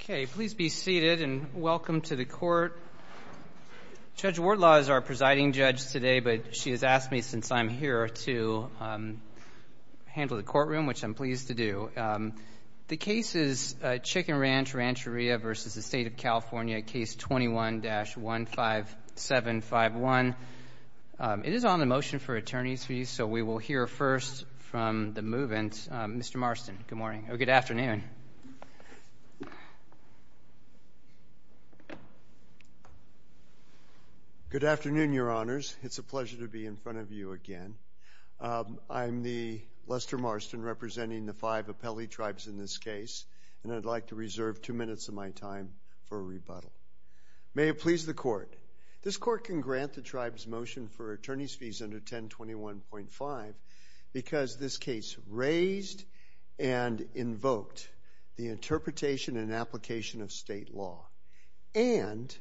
21-15751. It is on the motion for attorney's fees, so we will hear first from the movant, Mr. Marston. Good morning, or good afternoon. Good afternoon, your honors. It's a pleasure to be in front of you again. I'm the Lester Marston, representing the five appellee tribes in this case, and I'd like to reserve two minutes of my time for a rebuttal. May it please the court, this court can grant the tribe's motion for attorney's fees under 1021.5 because this case raised and invoked the interpretation and application of state law, and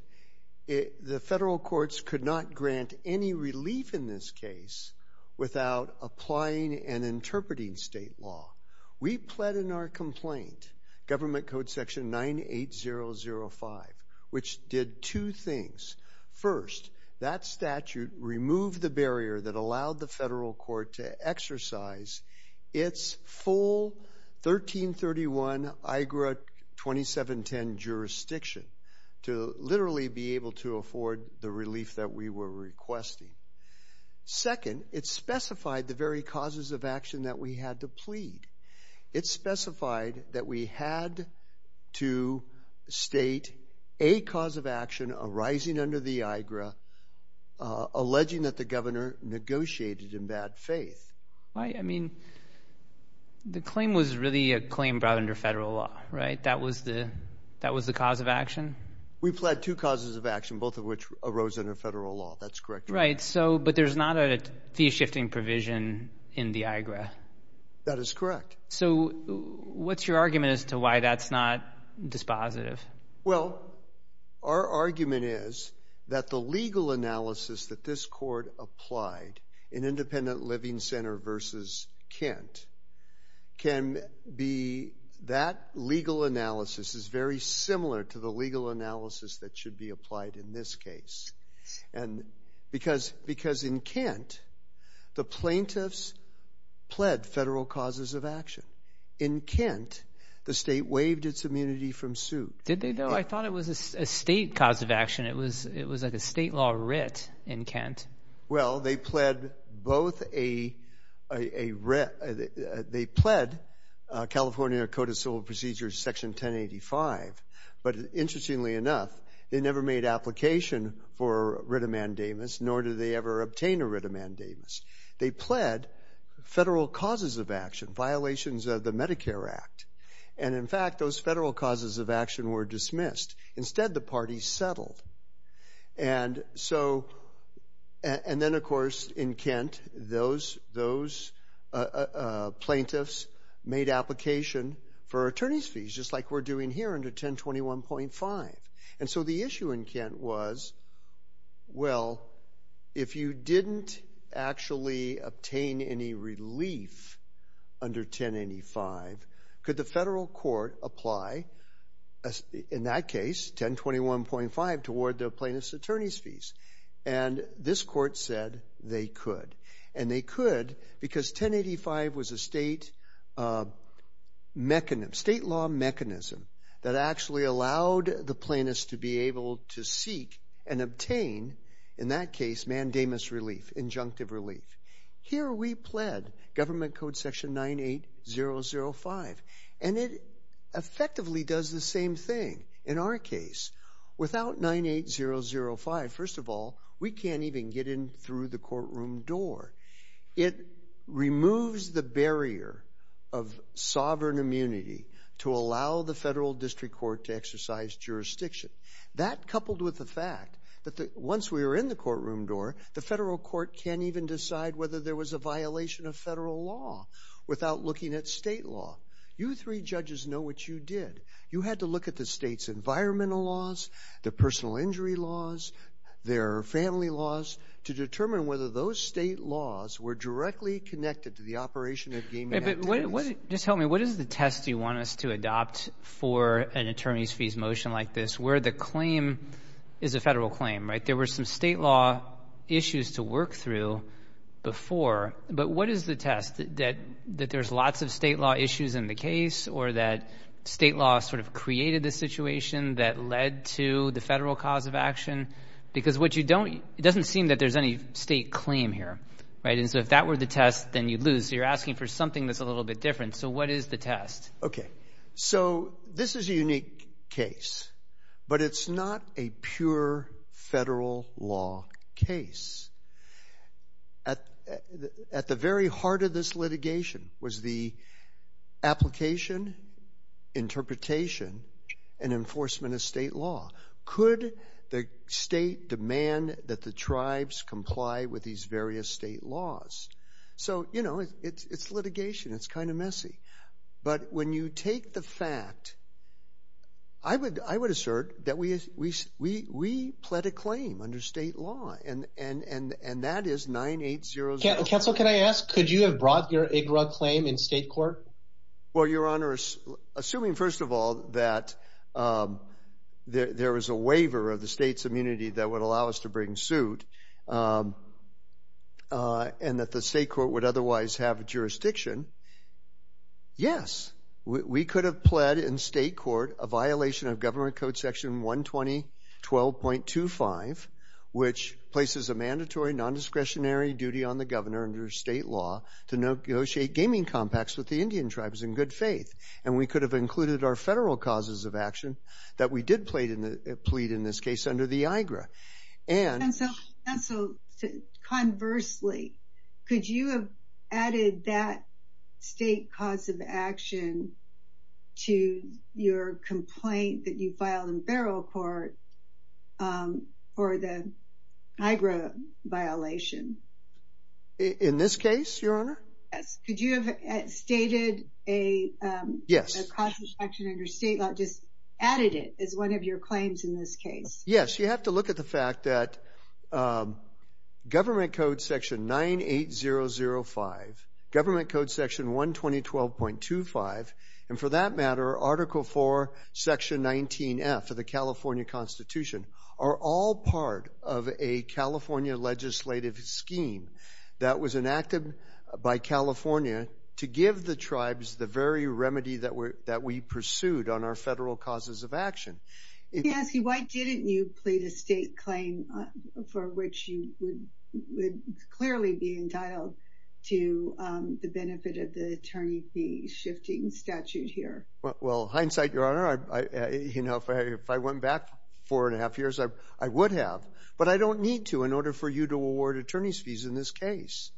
the federal courts could not grant any relief in this case without applying and interpreting state law. We pled in our complaint, Government Code Section 98005, which did two things. First, that statute removed the barrier that allowed the federal court to exercise its full 1331 IGRA 2710 jurisdiction to literally be able to afford the relief that we were requesting. Second, it specified the very causes of action that we had to plead. It specified that we had to state a cause of action arising under the IGRA, alleging that the governor negotiated in bad faith. Right, I mean, the claim was really a claim brought under federal law, right? That was the cause of action? We pled two causes of action, both of which arose under federal law, that's correct. Right, so, but there's not a fee-shifting provision in the IGRA. That is correct. So, what's your argument as to why that's not dispositive? Well, our argument is that the legal analysis that this court applied in Independent Living Center versus Kent can be, that legal analysis is very similar to the legal analysis that should be applied in this case. the plaintiffs pled federal causes of action. In Kent, the state waived its immunity from suit. Did they though? I thought it was a state cause of action. It was, it was like a state law writ in Kent. Well, they pled both a a writ, they pled California Code of Civil Procedures, section 1085, but interestingly enough, they never made application for writ of mandamus, nor did they ever obtain a writ of mandamus. They pled federal causes of action, violations of the Medicare Act, and in fact, those federal causes of action were dismissed. Instead, the parties settled. And so, and then, of course, in Kent, those, those plaintiffs made application for attorney's fees, just like we're doing here under 1021.5. And so, the issue in Kent was, well, if you didn't actually obtain any relief under 1085, could the federal court apply, in that case, 1021.5, toward the plaintiff's attorney's fees? And this court said they could. And they could because 1085 was a state mechanism, state law mechanism, that actually allowed the plaintiffs to be able to seek and obtain, in that case, mandamus relief, injunctive relief. Here, we pled government code section 98005, and it effectively does the same thing in our case. Without 98005, first of all, we can't even get in through the courtroom door. It removes the barrier of sovereign immunity to allow the federal district court to exercise jurisdiction. That, coupled with the fact that once we were in the courtroom door, the federal court can't even decide whether there was a violation of federal law without looking at state law. You three judges know what you did. You had to look at the state's environmental laws, the personal injury laws, their family laws, to determine whether those state laws were directly connected to the operation of gaming activities. Just tell me, what is the test you want us to adopt for an attorney's fees motion like this, where the claim is a federal claim, right? There were some state law issues to work through before, but what is the test, that there's lots of state law issues in the case, or that state law sort of created the situation that led to the federal cause of action? Because what you don't, it doesn't seem that there's any state claim here, right? And so if that were the test, then you'd lose. You're asking for something that's a little bit different. So what is the test? Okay, so this is a unique case, but it's not a pure federal law case. At the very heart of this litigation was the application, interpretation, and enforcement of state law. Could the state demand that the tribes comply with these various state laws? So, you know, it's litigation, it's kind of messy. But when you take the fact, I would assert that we pled a claim under state law, and that is 9800- Counsel, can I ask, could you have brought your IGRA claim in state court? Well, Your Honor, assuming first of all, that there was a waiver of the state's immunity that would allow us to bring suit, and that the state court would otherwise have jurisdiction, yes, we could have pled in state court a violation of Government Code Section 120.12.25, which places a mandatory non-discretionary duty on the governor under state law to negotiate gaming compacts with the Indian tribes in good faith. And we could have included our federal causes of action that we did plead in this case under the IGRA. And- Counsel, conversely, could you have added that state cause of action to your complaint that you filed in federal court for the IGRA violation? In this case, Your Honor? Yes, could you have stated a- Yes. A cause of action under state law, just added it as one of your claims in this case? Yes, you have to look at the fact that Government Code Section 98005, Government Code Section 120.25, and for that matter, Article IV, Section 19F of the California Constitution are all part of a California legislative scheme that was enacted by California to give the tribes the very remedy that we pursued on our federal causes of action. Nancy, why didn't you plead a state claim for which you would clearly be entitled to the benefit of the attorney fee shifting statute here? Well, hindsight, Your Honor, if I went back four and a half years, I would have, but I don't need to in order for you to award attorney's fees in this case.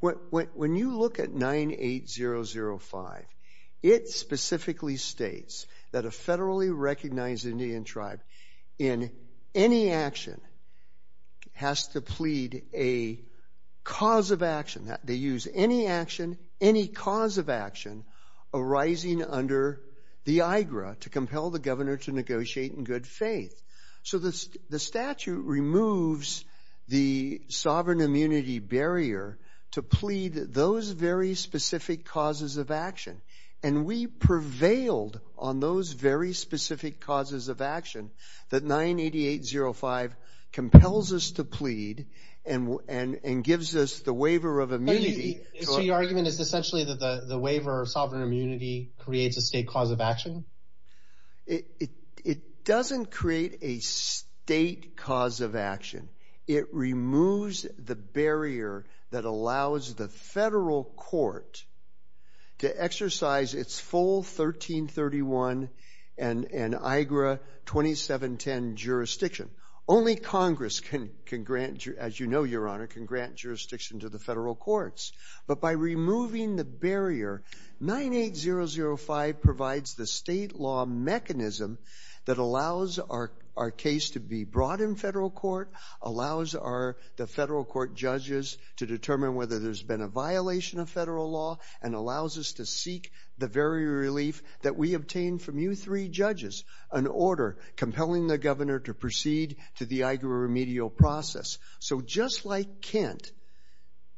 When you look at 98005, it specifically states that a federally recognized Indian tribe in any action has to plead a cause of action. They use any cause of action arising under the IGRA to compel the governor to negotiate in good faith. So the statute removes the sovereign immunity barrier to plead those very specific causes of action, and we prevailed on those very specific causes of action that 980805 compels us to plead and gives us the waiver of immunity. So your argument is essentially that the waiver of sovereign immunity creates a state cause of action? It doesn't create a state cause of action. It removes the barrier that allows the federal court to exercise its full 1331 and IGRA 2710 jurisdiction. Only Congress can grant, as you know, Your Honor, can grant jurisdiction to the federal courts. But by removing the barrier, 98005 provides the state law mechanism that allows our case to be brought in federal court, allows the federal court judges to determine whether there's been a violation of federal law, and allows us to seek the very relief that we obtained from you three judges, an order compelling the governor to proceed to the IGRA remedial process. So just like Kent,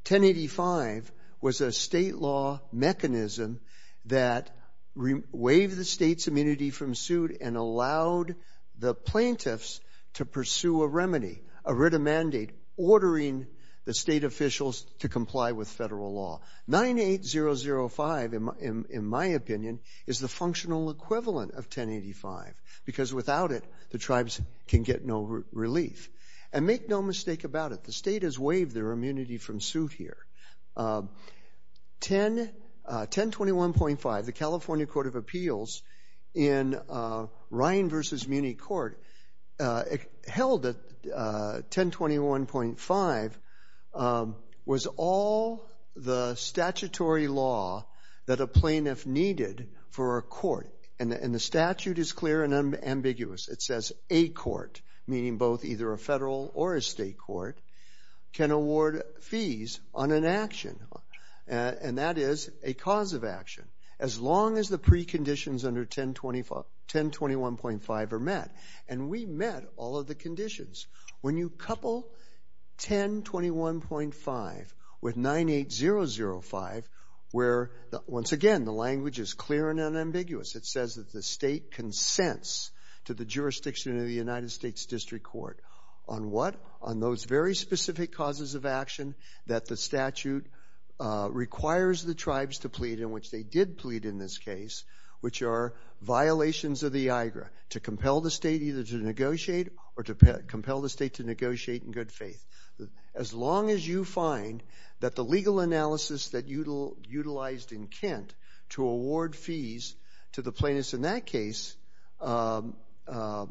1085 was a state law mechanism that waived the state's immunity from suit and allowed the plaintiffs to pursue a remedy, a writ of mandate, ordering the state officials to comply with federal law. 98005, in my opinion, is the functional equivalent of 1085, because without it, the tribes can get no relief. And make no mistake about it, the state has waived their immunity from suit here. 1021.5, the California Court of Appeals in Ryan v. Muni Court held that 1021.5 was all the statutory law that a plaintiff needed for a court, and the statute is clear and ambiguous. It says a court, meaning both either a federal or a state court, can award fees on an action. And that is a cause of action. As long as the preconditions under 1021.5 are met. And we met all of the conditions. When you couple 1021.5 with 98005, where, once again, the language is clear and unambiguous. It says that the state consents to the jurisdiction of the United States District Court. On what? that the statute requires the tribes to plead in which they did plead in this case, which are violations of the IGRA, to compel the state either to negotiate or to compel the state to negotiate in good faith. As long as you find that the legal analysis that utilized in Kent to award fees to the plaintiffs in that case, applies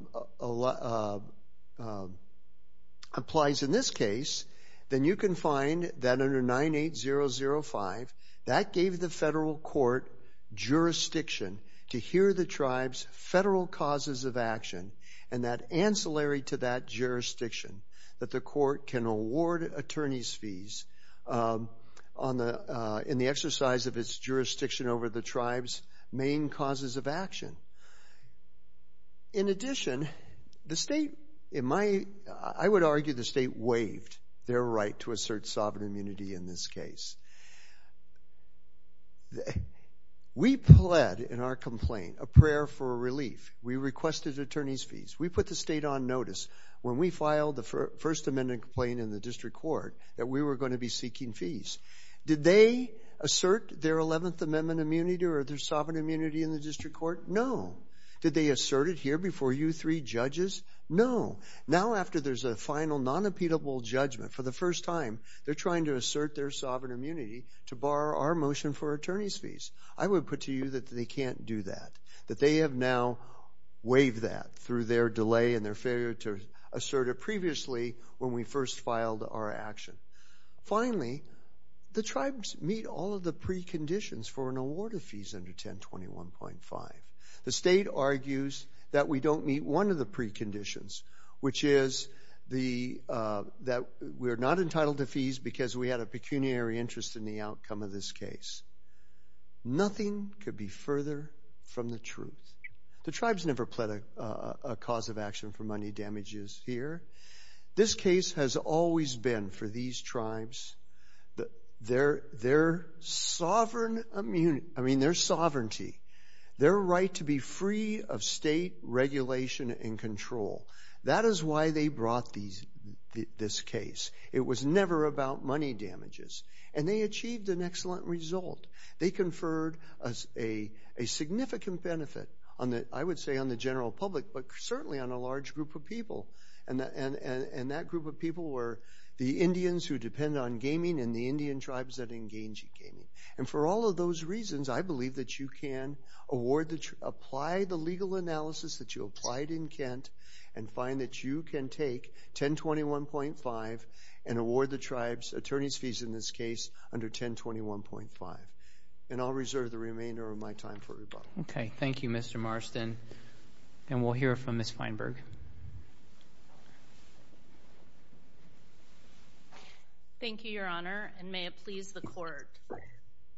in this case, then you can find that under 98005, that gave the federal court jurisdiction to hear the tribes' federal causes of action and that ancillary to that jurisdiction that the court can award attorney's fees in the exercise of its jurisdiction over the tribes' main causes of action. In addition, the state, in my, I would argue the state waived their right to assert sovereign immunity in this case. We pled in our complaint a prayer for relief. We requested attorney's fees. We put the state on notice. When we filed the First Amendment complaint in the district court, that we were gonna be seeking fees. Did they assert their 11th Amendment immunity or their sovereign immunity in the district court? No. Did they assert it here before you three judges? No. Now after there's a final non-impedible judgment, for the first time, they're trying to assert their sovereign immunity to bar our motion for attorney's fees. I would put to you that they can't do that, that they have now waived that through their delay and their failure to assert it previously when we first filed our action. Finally, the tribes meet all of the preconditions for an award of fees under 1021.5. The state argues that we don't meet one of the preconditions, which is that we're not entitled to fees because we had a pecuniary interest in the outcome of this case. Nothing could be further from the truth. The tribes never pled a cause of action for money damages here. This case has always been for these tribes, I mean, their sovereignty, their right to be free of state regulation and control. That is why they brought this case. It was never about money damages. And they achieved an excellent result. They conferred a significant benefit, I would say, on the general public, but certainly on a large group of people. And that group of people were the Indians who depend on gaming and the Indian tribes that engage in gaming. And for all of those reasons, I believe that you can apply the legal analysis that you applied in Kent and find that you can take 1021.5 and award the tribe's attorney's fees in this case under 1021.5. And I'll reserve the remainder of my time for rebuttal. Okay, thank you, Mr. Marston. And we'll hear from Ms. Feinberg. Thank you, Your Honor. And may it please the court.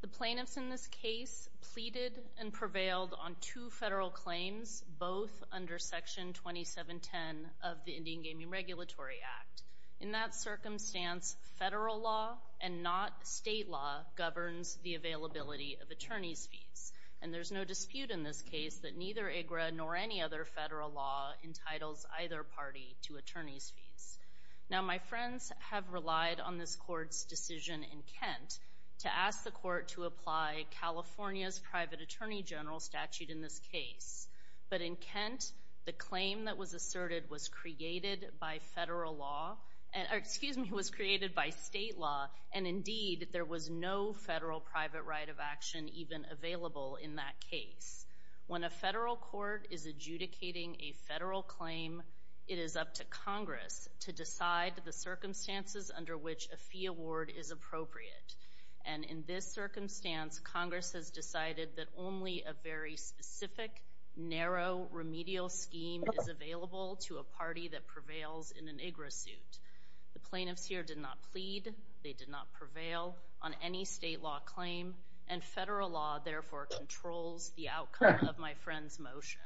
The plaintiffs in this case pleaded and prevailed on two federal claims, both under section 2710 of the Indian Gaming Regulatory Act. In that circumstance, federal law and not state law governs the availability of attorney's fees. And there's no dispute in this case that neither IGRA nor any other federal law entitles either party to attorney's fees. Now, my friends have relied on this court's decision in Kent to ask the court to apply California's private attorney general statute in this case. But in Kent, the claim that was asserted was created by federal law, or excuse me, was created by state law. And indeed, there was no federal private right of action even available in that case. When a federal court is adjudicating a federal claim, it is up to Congress to decide the circumstances under which a fee award is appropriate. And in this circumstance, Congress has decided that only a very specific, narrow, remedial scheme is available to a party that prevails in an IGRA suit. The plaintiffs here did not plead, they did not prevail on any state law claim, and federal law therefore controls the outcome of my friend's motion.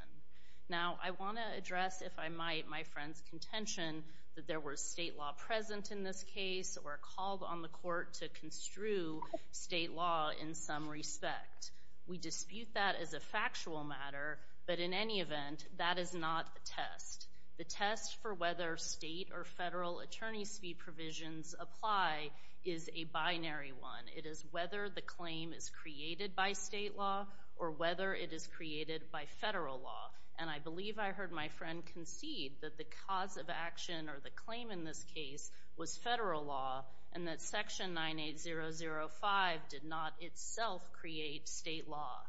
Now, I wanna address, if I might, my friend's contention that there was state law present in this case, or called on the court to construe state law in some respect. We dispute that as a factual matter, but in any event, that is not a test. The test for whether state or federal attorney's fee provisions apply is a binary one. It is whether the claim is created by state law, or whether it is created by federal law. And I believe I heard my friend concede that the cause of action, or the claim in this case, was federal law, and that section 98005 did not itself create state law,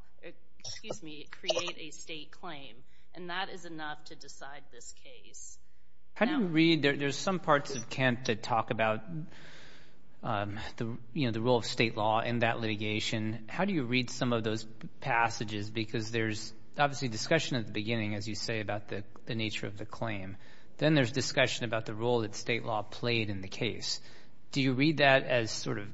excuse me, create a state claim. And that is enough to decide this case. Now- How do you read, there's some parts of Kent that talk about the role of state law in that litigation. Because there's obviously discussion at the beginning, as you say, about the nature of the claim. Then there's discussion about the role that state law played in the case. Do you read that as sort of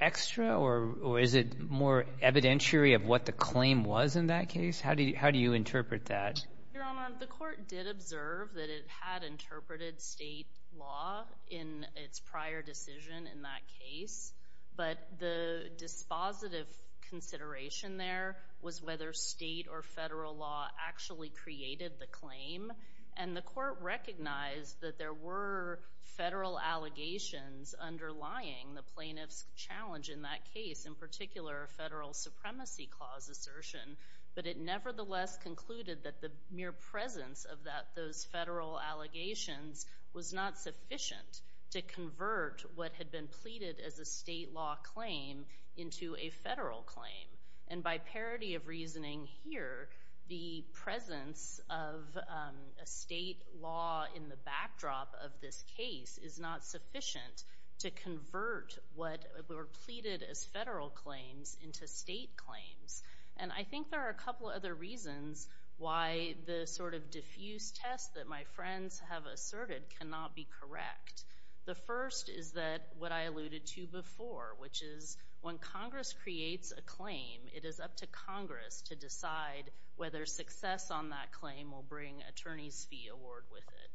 extra, or is it more evidentiary of what the claim was in that case? How do you interpret that? Your Honor, the court did observe that it had interpreted state law in its prior decision in that case. But the dispositive consideration there was whether state or federal law actually created the claim. And the court recognized that there were federal allegations underlying the plaintiff's challenge in that case, in particular, a federal supremacy clause assertion. But it nevertheless concluded that the mere presence of those federal allegations was not sufficient to convert what had been pleaded as a state law claim into a federal claim. And by parity of reasoning here, the presence of a state law in the backdrop of this case is not sufficient to convert what were pleaded as federal claims into state claims. And I think there are a couple other reasons why the sort of diffuse test that my friends have asserted cannot be correct. The first is that what I alluded to before, which is when Congress creates a claim, it is up to Congress to decide whether success on that claim will bring attorney's fee award with it.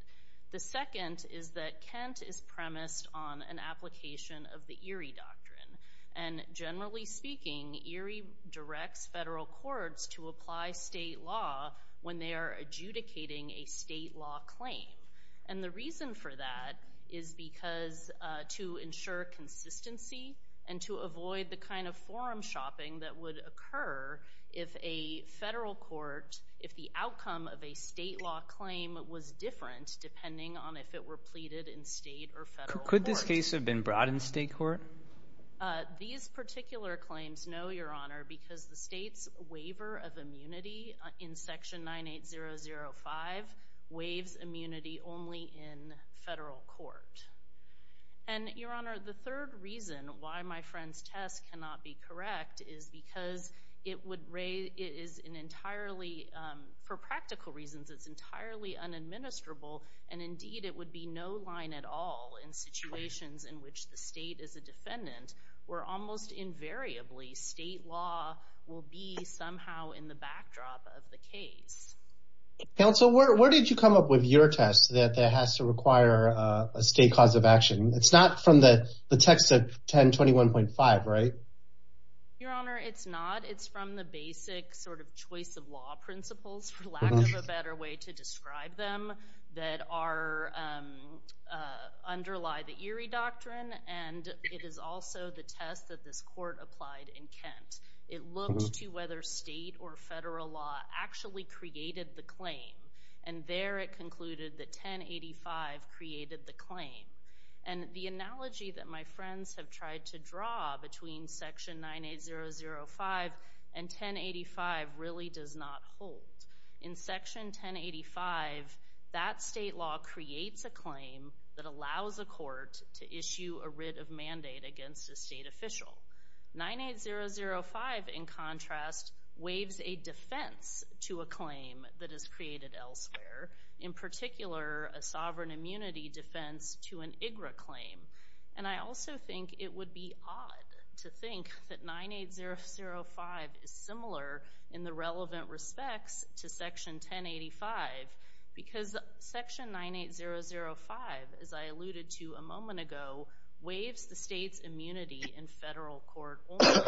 The second is that Kent is premised on an application of the Erie Doctrine. And generally speaking, Erie directs federal courts to apply state law when they are adjudicating a state law claim. And the reason for that is because to ensure consistency and to avoid the kind of forum shopping that would occur if a federal court, if the outcome of a state law claim was different depending on if it were pleaded in state or federal court. Could this case have been brought in state court? These particular claims, no, your honor, because the state's waiver of immunity in section 98005 waives immunity only in federal court. And your honor, the third reason why my friend's test cannot be correct is because it is an entirely, for practical reasons, it's entirely unadministrable. And indeed it would be no line at all in situations in which the state is a defendant where almost invariably state law will be somehow in the backdrop of the case. Council, where did you come up with your test that has to require a state cause of action? It's not from the text of 1021.5, right? Your honor, it's not. It's from the basic sort of choice of law principles for lack of a better way to describe them that underlie the Erie Doctrine. And it is also the test that this court applied in Kent. It looked to whether state or federal law And there it concluded that 1085 created the claim. And the analogy that my friends have tried to draw between section 98005 and 1085 really does not hold. In section 1085, that state law creates a claim that allows a court to issue a writ of mandate against a state official. 98005, in contrast, waives a defense to a claim that is created elsewhere. In particular, a sovereign immunity defense to an IGRA claim. And I also think it would be odd to think that 98005 is similar in the relevant respects to section 1085 because section 98005, as I alluded to a moment ago, waives the state's immunity in federal court order.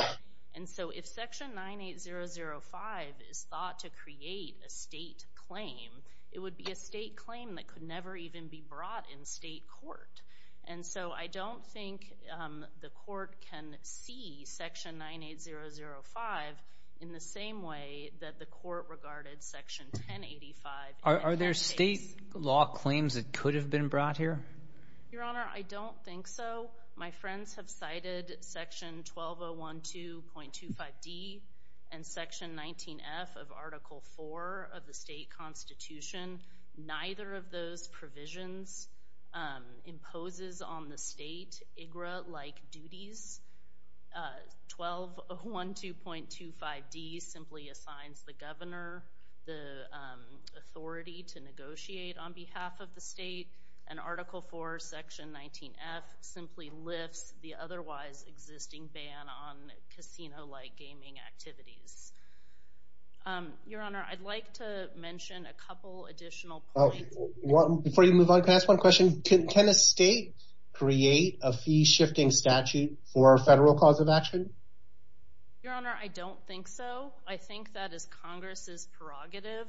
And so if section 98005 is thought to create a state claim, it would be a state claim that could never even be brought in state court. And so I don't think the court can see section 98005 in the same way that the court regarded section 1085. Are there state law claims that could have been brought here? Your honor, I don't think so. My friends have cited section 12012.25D and section 19F of article four of the state constitution. Neither of those provisions imposes on the state IGRA-like duties. 12012.25D simply assigns the governor the authority to negotiate on behalf of the state. And article four, section 19F simply lifts the otherwise existing ban on casino-like gaming activities. Your honor, I'd like to mention a couple additional points. Before you move on, can I ask one question? Can a state create a fee-shifting statute for a federal cause of action? Your honor, I don't think so. I think that is Congress's prerogative.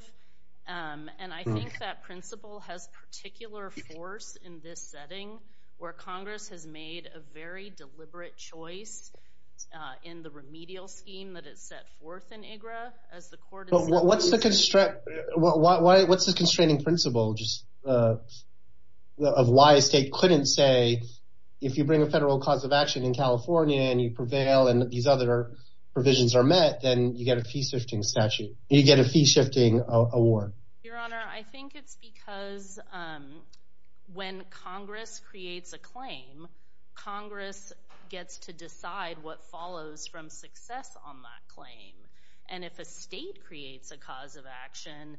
And I think that principle has particular force in this setting where Congress has made a very deliberate choice in the remedial scheme that is set forth in IGRA, as the court has said. What's the constraining principle just of why a state couldn't say, if you bring a federal cause of action in California and you prevail and these other provisions are met, then you get a fee-shifting statute. You get a fee-shifting award. Your honor, I think it's because when Congress creates a claim, Congress gets to decide what follows from success on that claim. And if a state creates a cause of action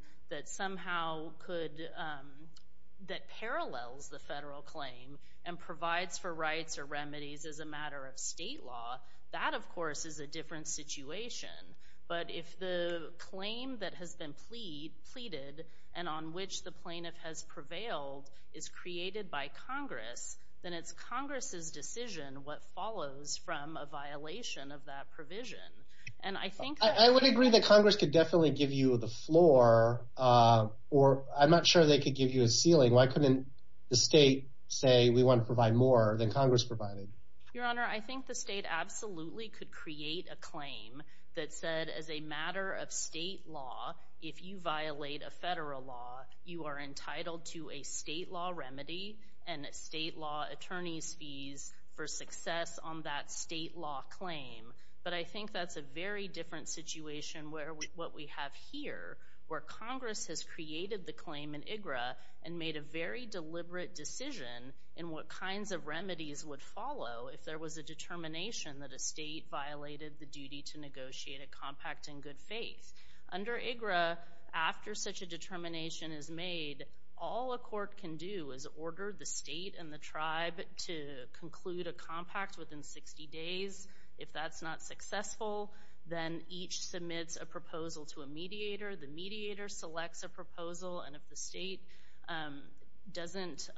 that parallels the federal claim and provides for rights or remedies as a matter of state law, that, of course, is a different situation. But if the claim that has been pleaded and on which the plaintiff has prevailed is created by Congress, then it's Congress's decision what follows from a violation of that provision. And I think that- I would agree that Congress could definitely give you the floor, or I'm not sure they could give you a ceiling. Why couldn't the state say, we want to provide more than Congress provided? Your honor, I think the state absolutely could create a claim that said, as a matter of state law, if you violate a federal law, you are entitled to a state law remedy and a state law attorney's fees for success on that state law claim. But I think that's a very different situation where what we have here, where Congress has created the claim in IGRA and made a very deliberate decision in what kinds of remedies would follow if there was a determination that a state violated the duty to negotiate a compact and good faith. Under IGRA, after such a determination is made, all a court can do is order the state and the tribe to conclude a compact within 60 days. If that's not successful, then each submits a proposal to a mediator. The mediator selects a proposal and if the state doesn't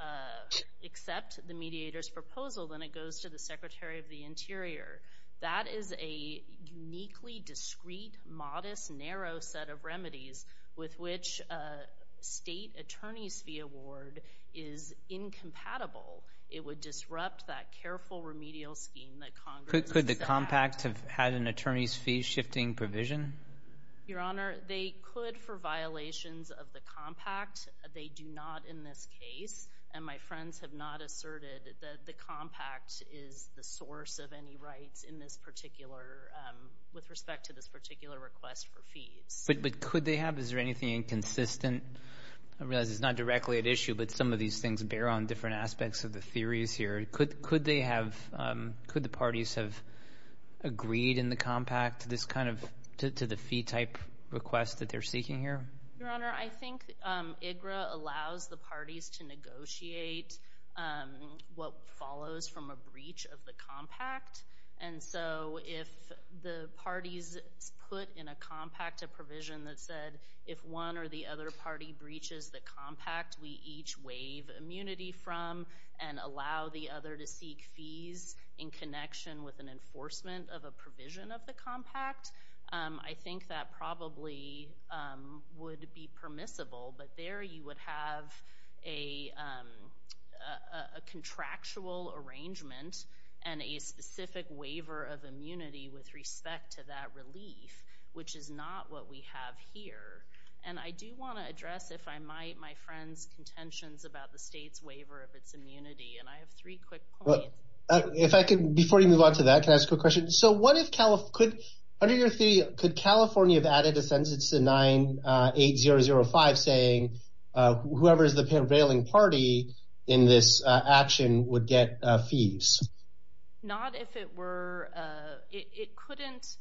accept the mediator's proposal, then it goes to the Secretary of the Interior. That is a uniquely discreet, modest, narrow set of remedies with which a state attorney's fee award is incompatible. It would disrupt that careful remedial scheme that Congress has set up. Could the compact have had an attorney's fee shifting provision? Your Honor, they could for violations of the compact. They do not in this case. And my friends have not asserted that the compact is the source of any rights in this particular, with respect to this particular request for fees. But could they have? Is there anything inconsistent? I realize it's not directly at issue, but some of these things bear on different aspects of the theories here. Could they have, could the parties have agreed in the compact to this kind of, to the fee type request that they're seeking here? Your Honor, I think IGRA allows the parties to negotiate what follows from a breach of the compact. And so if the parties put in a compact a provision that said, if one or the other party breaches the compact, we each waive immunity from and allow the other to seek fees in connection with an enforcement of a provision of the compact, I think that probably would be permissible. But there you would have a contractual arrangement and a specific waiver of immunity with respect to that relief, which is not what we have here. And I do wanna address, if I might, my friend's contentions about the state's waiver of its immunity, and I have three quick points. If I could, before you move on to that, can I ask a quick question? So what if, under your theory, could California have added a sentence to 98005 saying whoever is the prevailing party in this action would get fees? Not if it were, it couldn't.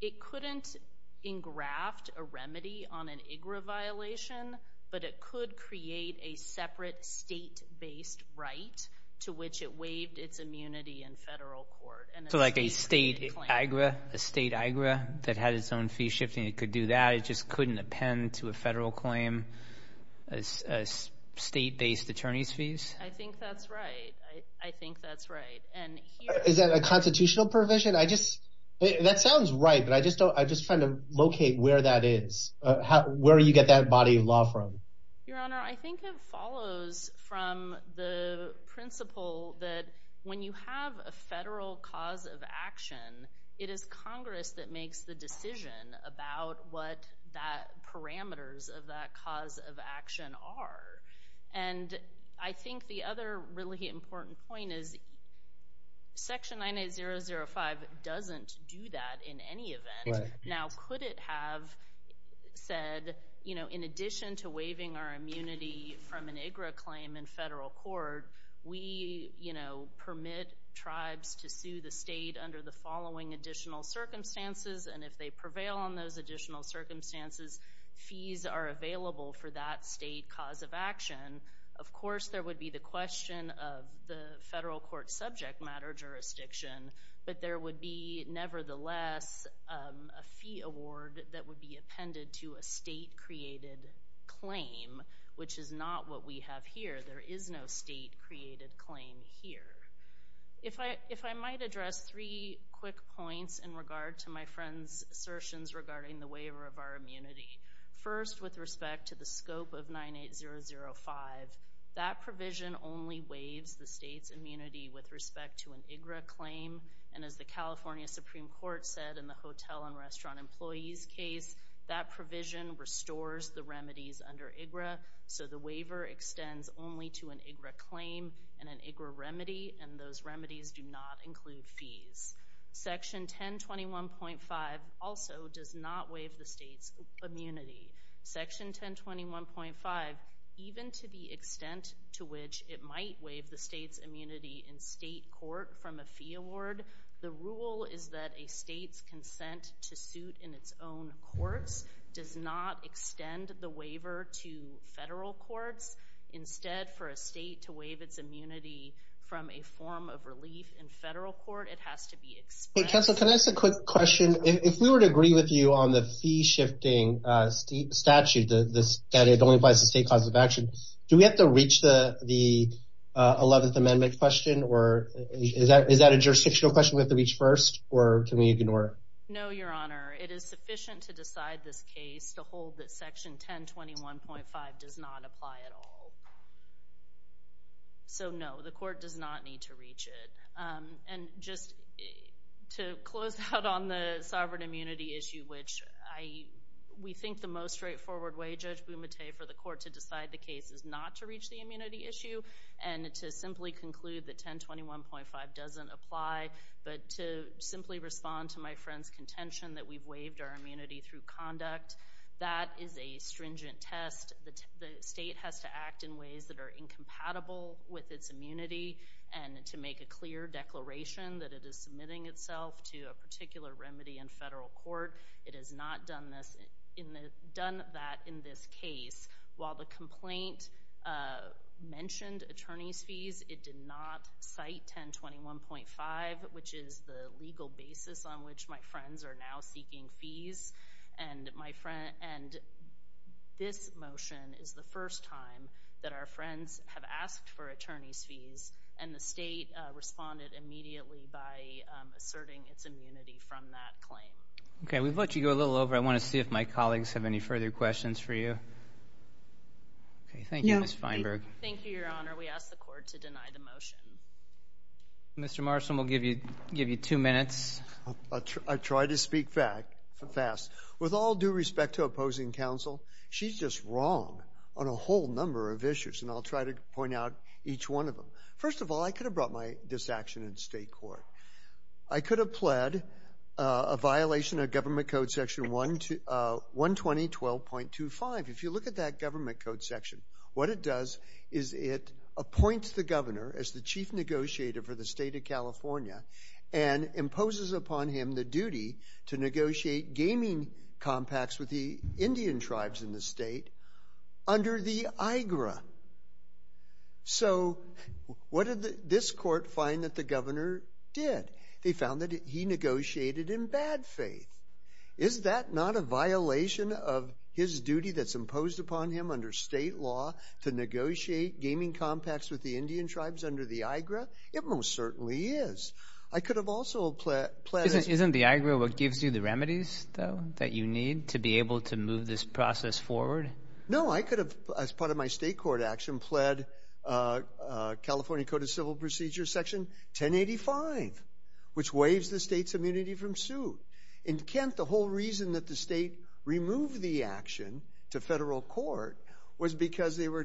It couldn't engraft a remedy on an IGRA violation, but it could create a separate state-based right to which it waived its immunity in federal court. So like a state IGRA that had its own fee shifting, it could do that, it just couldn't append to a federal claim, state-based attorney's fees? I think that's right, I think that's right. Is that a constitutional provision? That sounds right, but I'm just trying to locate where that is, where you get that body of law from. Your Honor, I think it follows from the principle that when you have a federal cause of action, it is Congress that makes the decision about what the parameters of that cause of action are. And I think the other really important point is section 98005 doesn't do that in any event. Now, could it have said, in addition to waiving our immunity from an IGRA claim in federal court, we permit tribes to sue the state under the following additional circumstances, and if they prevail on those additional circumstances, fees are available for that state cause of action. Of course, there would be the question of the federal court subject matter jurisdiction, but there would be, nevertheless, a fee award that would be appended to a state-created claim, which is not what we have here. There is no state-created claim here. If I might address three quick points in regard to my friend's assertions regarding the waiver of our immunity. First, with respect to the scope of 98005, that provision only waives the state's immunity with respect to an IGRA claim, and as the California Supreme Court said in the Hotel and Restaurant Employees case, that provision restores the remedies under IGRA, so the waiver extends only to an IGRA claim and an IGRA remedy, and those remedies do not include fees. Section 1021.5 also does not waive the state's immunity. Section 1021.5, even to the extent to which it might waive the state's immunity in state court from a fee award, the rule is that a state's consent to suit in its own courts does not extend the waiver to federal courts. Instead, for a state to waive its immunity from a form of relief in federal court, it has to be expressed. Hey, counsel, can I ask a quick question? If we were to agree with you on the fee-shifting statute that it only applies to state causes of action, do we have to reach the 11th Amendment question, or is that a jurisdictional question we have to reach first, or can we ignore it? No, Your Honor. It is sufficient to decide this case to hold that Section 1021.5 does not apply at all. So no, the court does not need to reach it. And just to close out on the sovereign immunity issue, which we think the most straightforward way, Judge Bumate, for the court to decide the case is not to reach the immunity issue and to simply conclude that 1021.5 doesn't apply, but to simply respond to my friend's contention that we've waived our immunity through conduct. That is a stringent test. The state has to act in ways that are incompatible with its immunity and to make a clear declaration that it is submitting itself to a particular remedy in federal court. It has not done that in this case. While the complaint mentioned attorney's fees, it did not cite 1021.5, which is the legal basis on which my friends are now seeking fees. And this motion is the first time that our friends have asked for attorney's fees and the state responded immediately by asserting its immunity from that claim. Okay, we've let you go a little over. I want to see if my colleagues have any further questions for you. Okay, thank you, Ms. Feinberg. Thank you, Your Honor. We ask the court to deny the motion. Mr. Marston, we'll give you two minutes. I try to speak fast. With all due respect to opposing counsel, she's just wrong on a whole number of issues and I'll try to point out each one of them. First of all, I could have brought my disaction in state court. I could have pled a violation of government code section 12012.25. If you look at that government code section, what it does is it appoints the governor as the chief negotiator for the state of California and imposes upon him the duty to negotiate gaming compacts with the Indian tribes in the state under the IGRA. So what did this court find that the governor did? They found that he negotiated in bad faith. Is that not a violation of his duty that's imposed upon him under state law to negotiate gaming compacts with the Indian tribes under the IGRA? It most certainly is. I could have also pled... Isn't the IGRA what gives you the remedies, though, that you need to be able to move this process forward? No, I could have, as part of my state court action, pled California Code of Civil Procedures section 1085, which waives the state's immunity from suit. In Kent, the whole reason that the state removed the action to federal court was because they were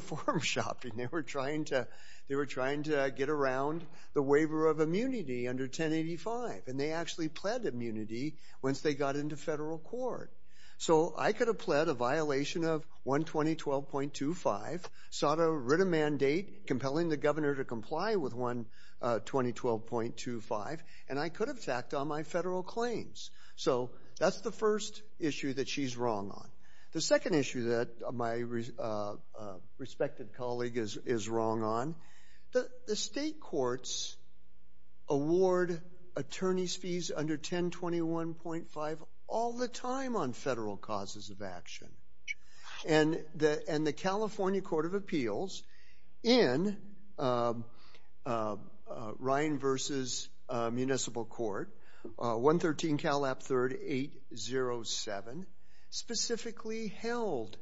form-shopping. They were trying to get around the waiver of immunity under 1085 and they actually pled immunity once they got into federal court. So I could have pled a violation of 120.25, sought to writ a mandate compelling the governor to comply with 120.25, and I could have tacked on my federal claims. So that's the first issue that she's wrong on. The second issue that my respected colleague is wrong on, the state courts award attorneys' fees under 1021.5 all the time on federal causes of action. And the California Court of Appeals in Ryan v. Municipal Court, 113 Cal. App. 3rd. 807, specifically held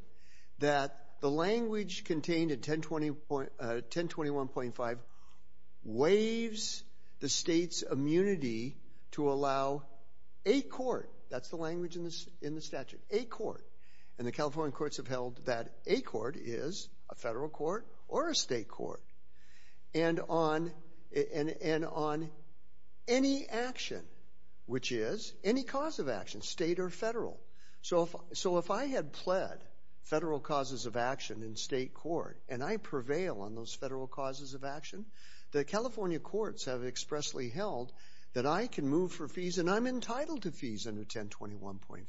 that the language contained in 1021.5 waives the state's immunity to allow a court, that's the language in the statute, a court. And the California courts have held that a court is a federal court or a state court. And on any action, which is any cause of action, state or federal. So if I had pled federal causes of action in state court and I prevail on those federal causes of action, the California courts have expressly held that I can move for fees and I'm entitled to fees under 1021.5.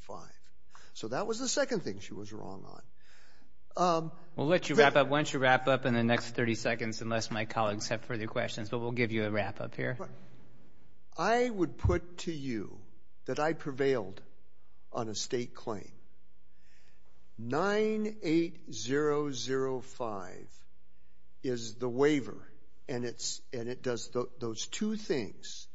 So that was the second thing she was wrong on. We'll let you wrap up. Why don't you wrap up in the next 30 seconds unless my colleagues have further questions, but we'll give you a wrap up here. I would put to you that I prevailed on a state claim. 98005 is the waiver and it does those two things,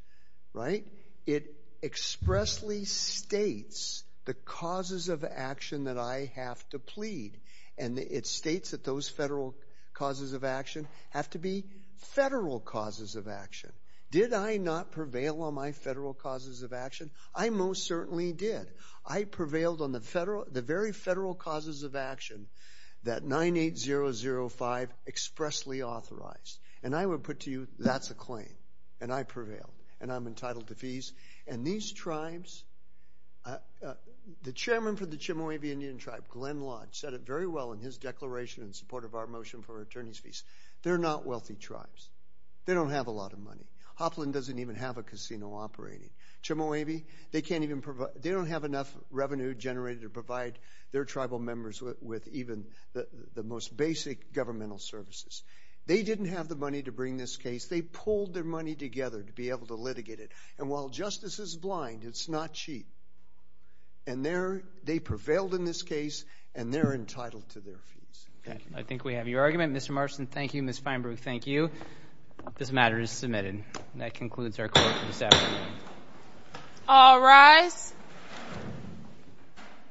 right? It expressly states the causes of action that I have to plead and it states that those federal causes of action have to be federal causes of action. Did I not prevail on my federal causes of action? I most certainly did. I prevailed on the very federal causes of action that 98005 expressly authorized. And I would put to you that's a claim and I prevailed and I'm entitled to fees. And these tribes, the chairman for the Chemehuevi Indian tribe, Glenn Lodge, said it very well in his declaration in support of our motion for attorney's fees. They're not wealthy tribes. They don't have a lot of money. Hopland doesn't even have a casino operating. Chemehuevi, they don't have enough revenue generated to provide their tribal members with even the most basic governmental services. They didn't have the money to bring this case. They pulled their money together to be able to litigate it. And while justice is blind, it's not cheap. And they prevailed in this case and they're entitled to their fees. Thank you. I think we have your argument. Mr. Marston, thank you. Ms. Feinberg, thank you. This matter is submitted. And that concludes our court this afternoon. All rise.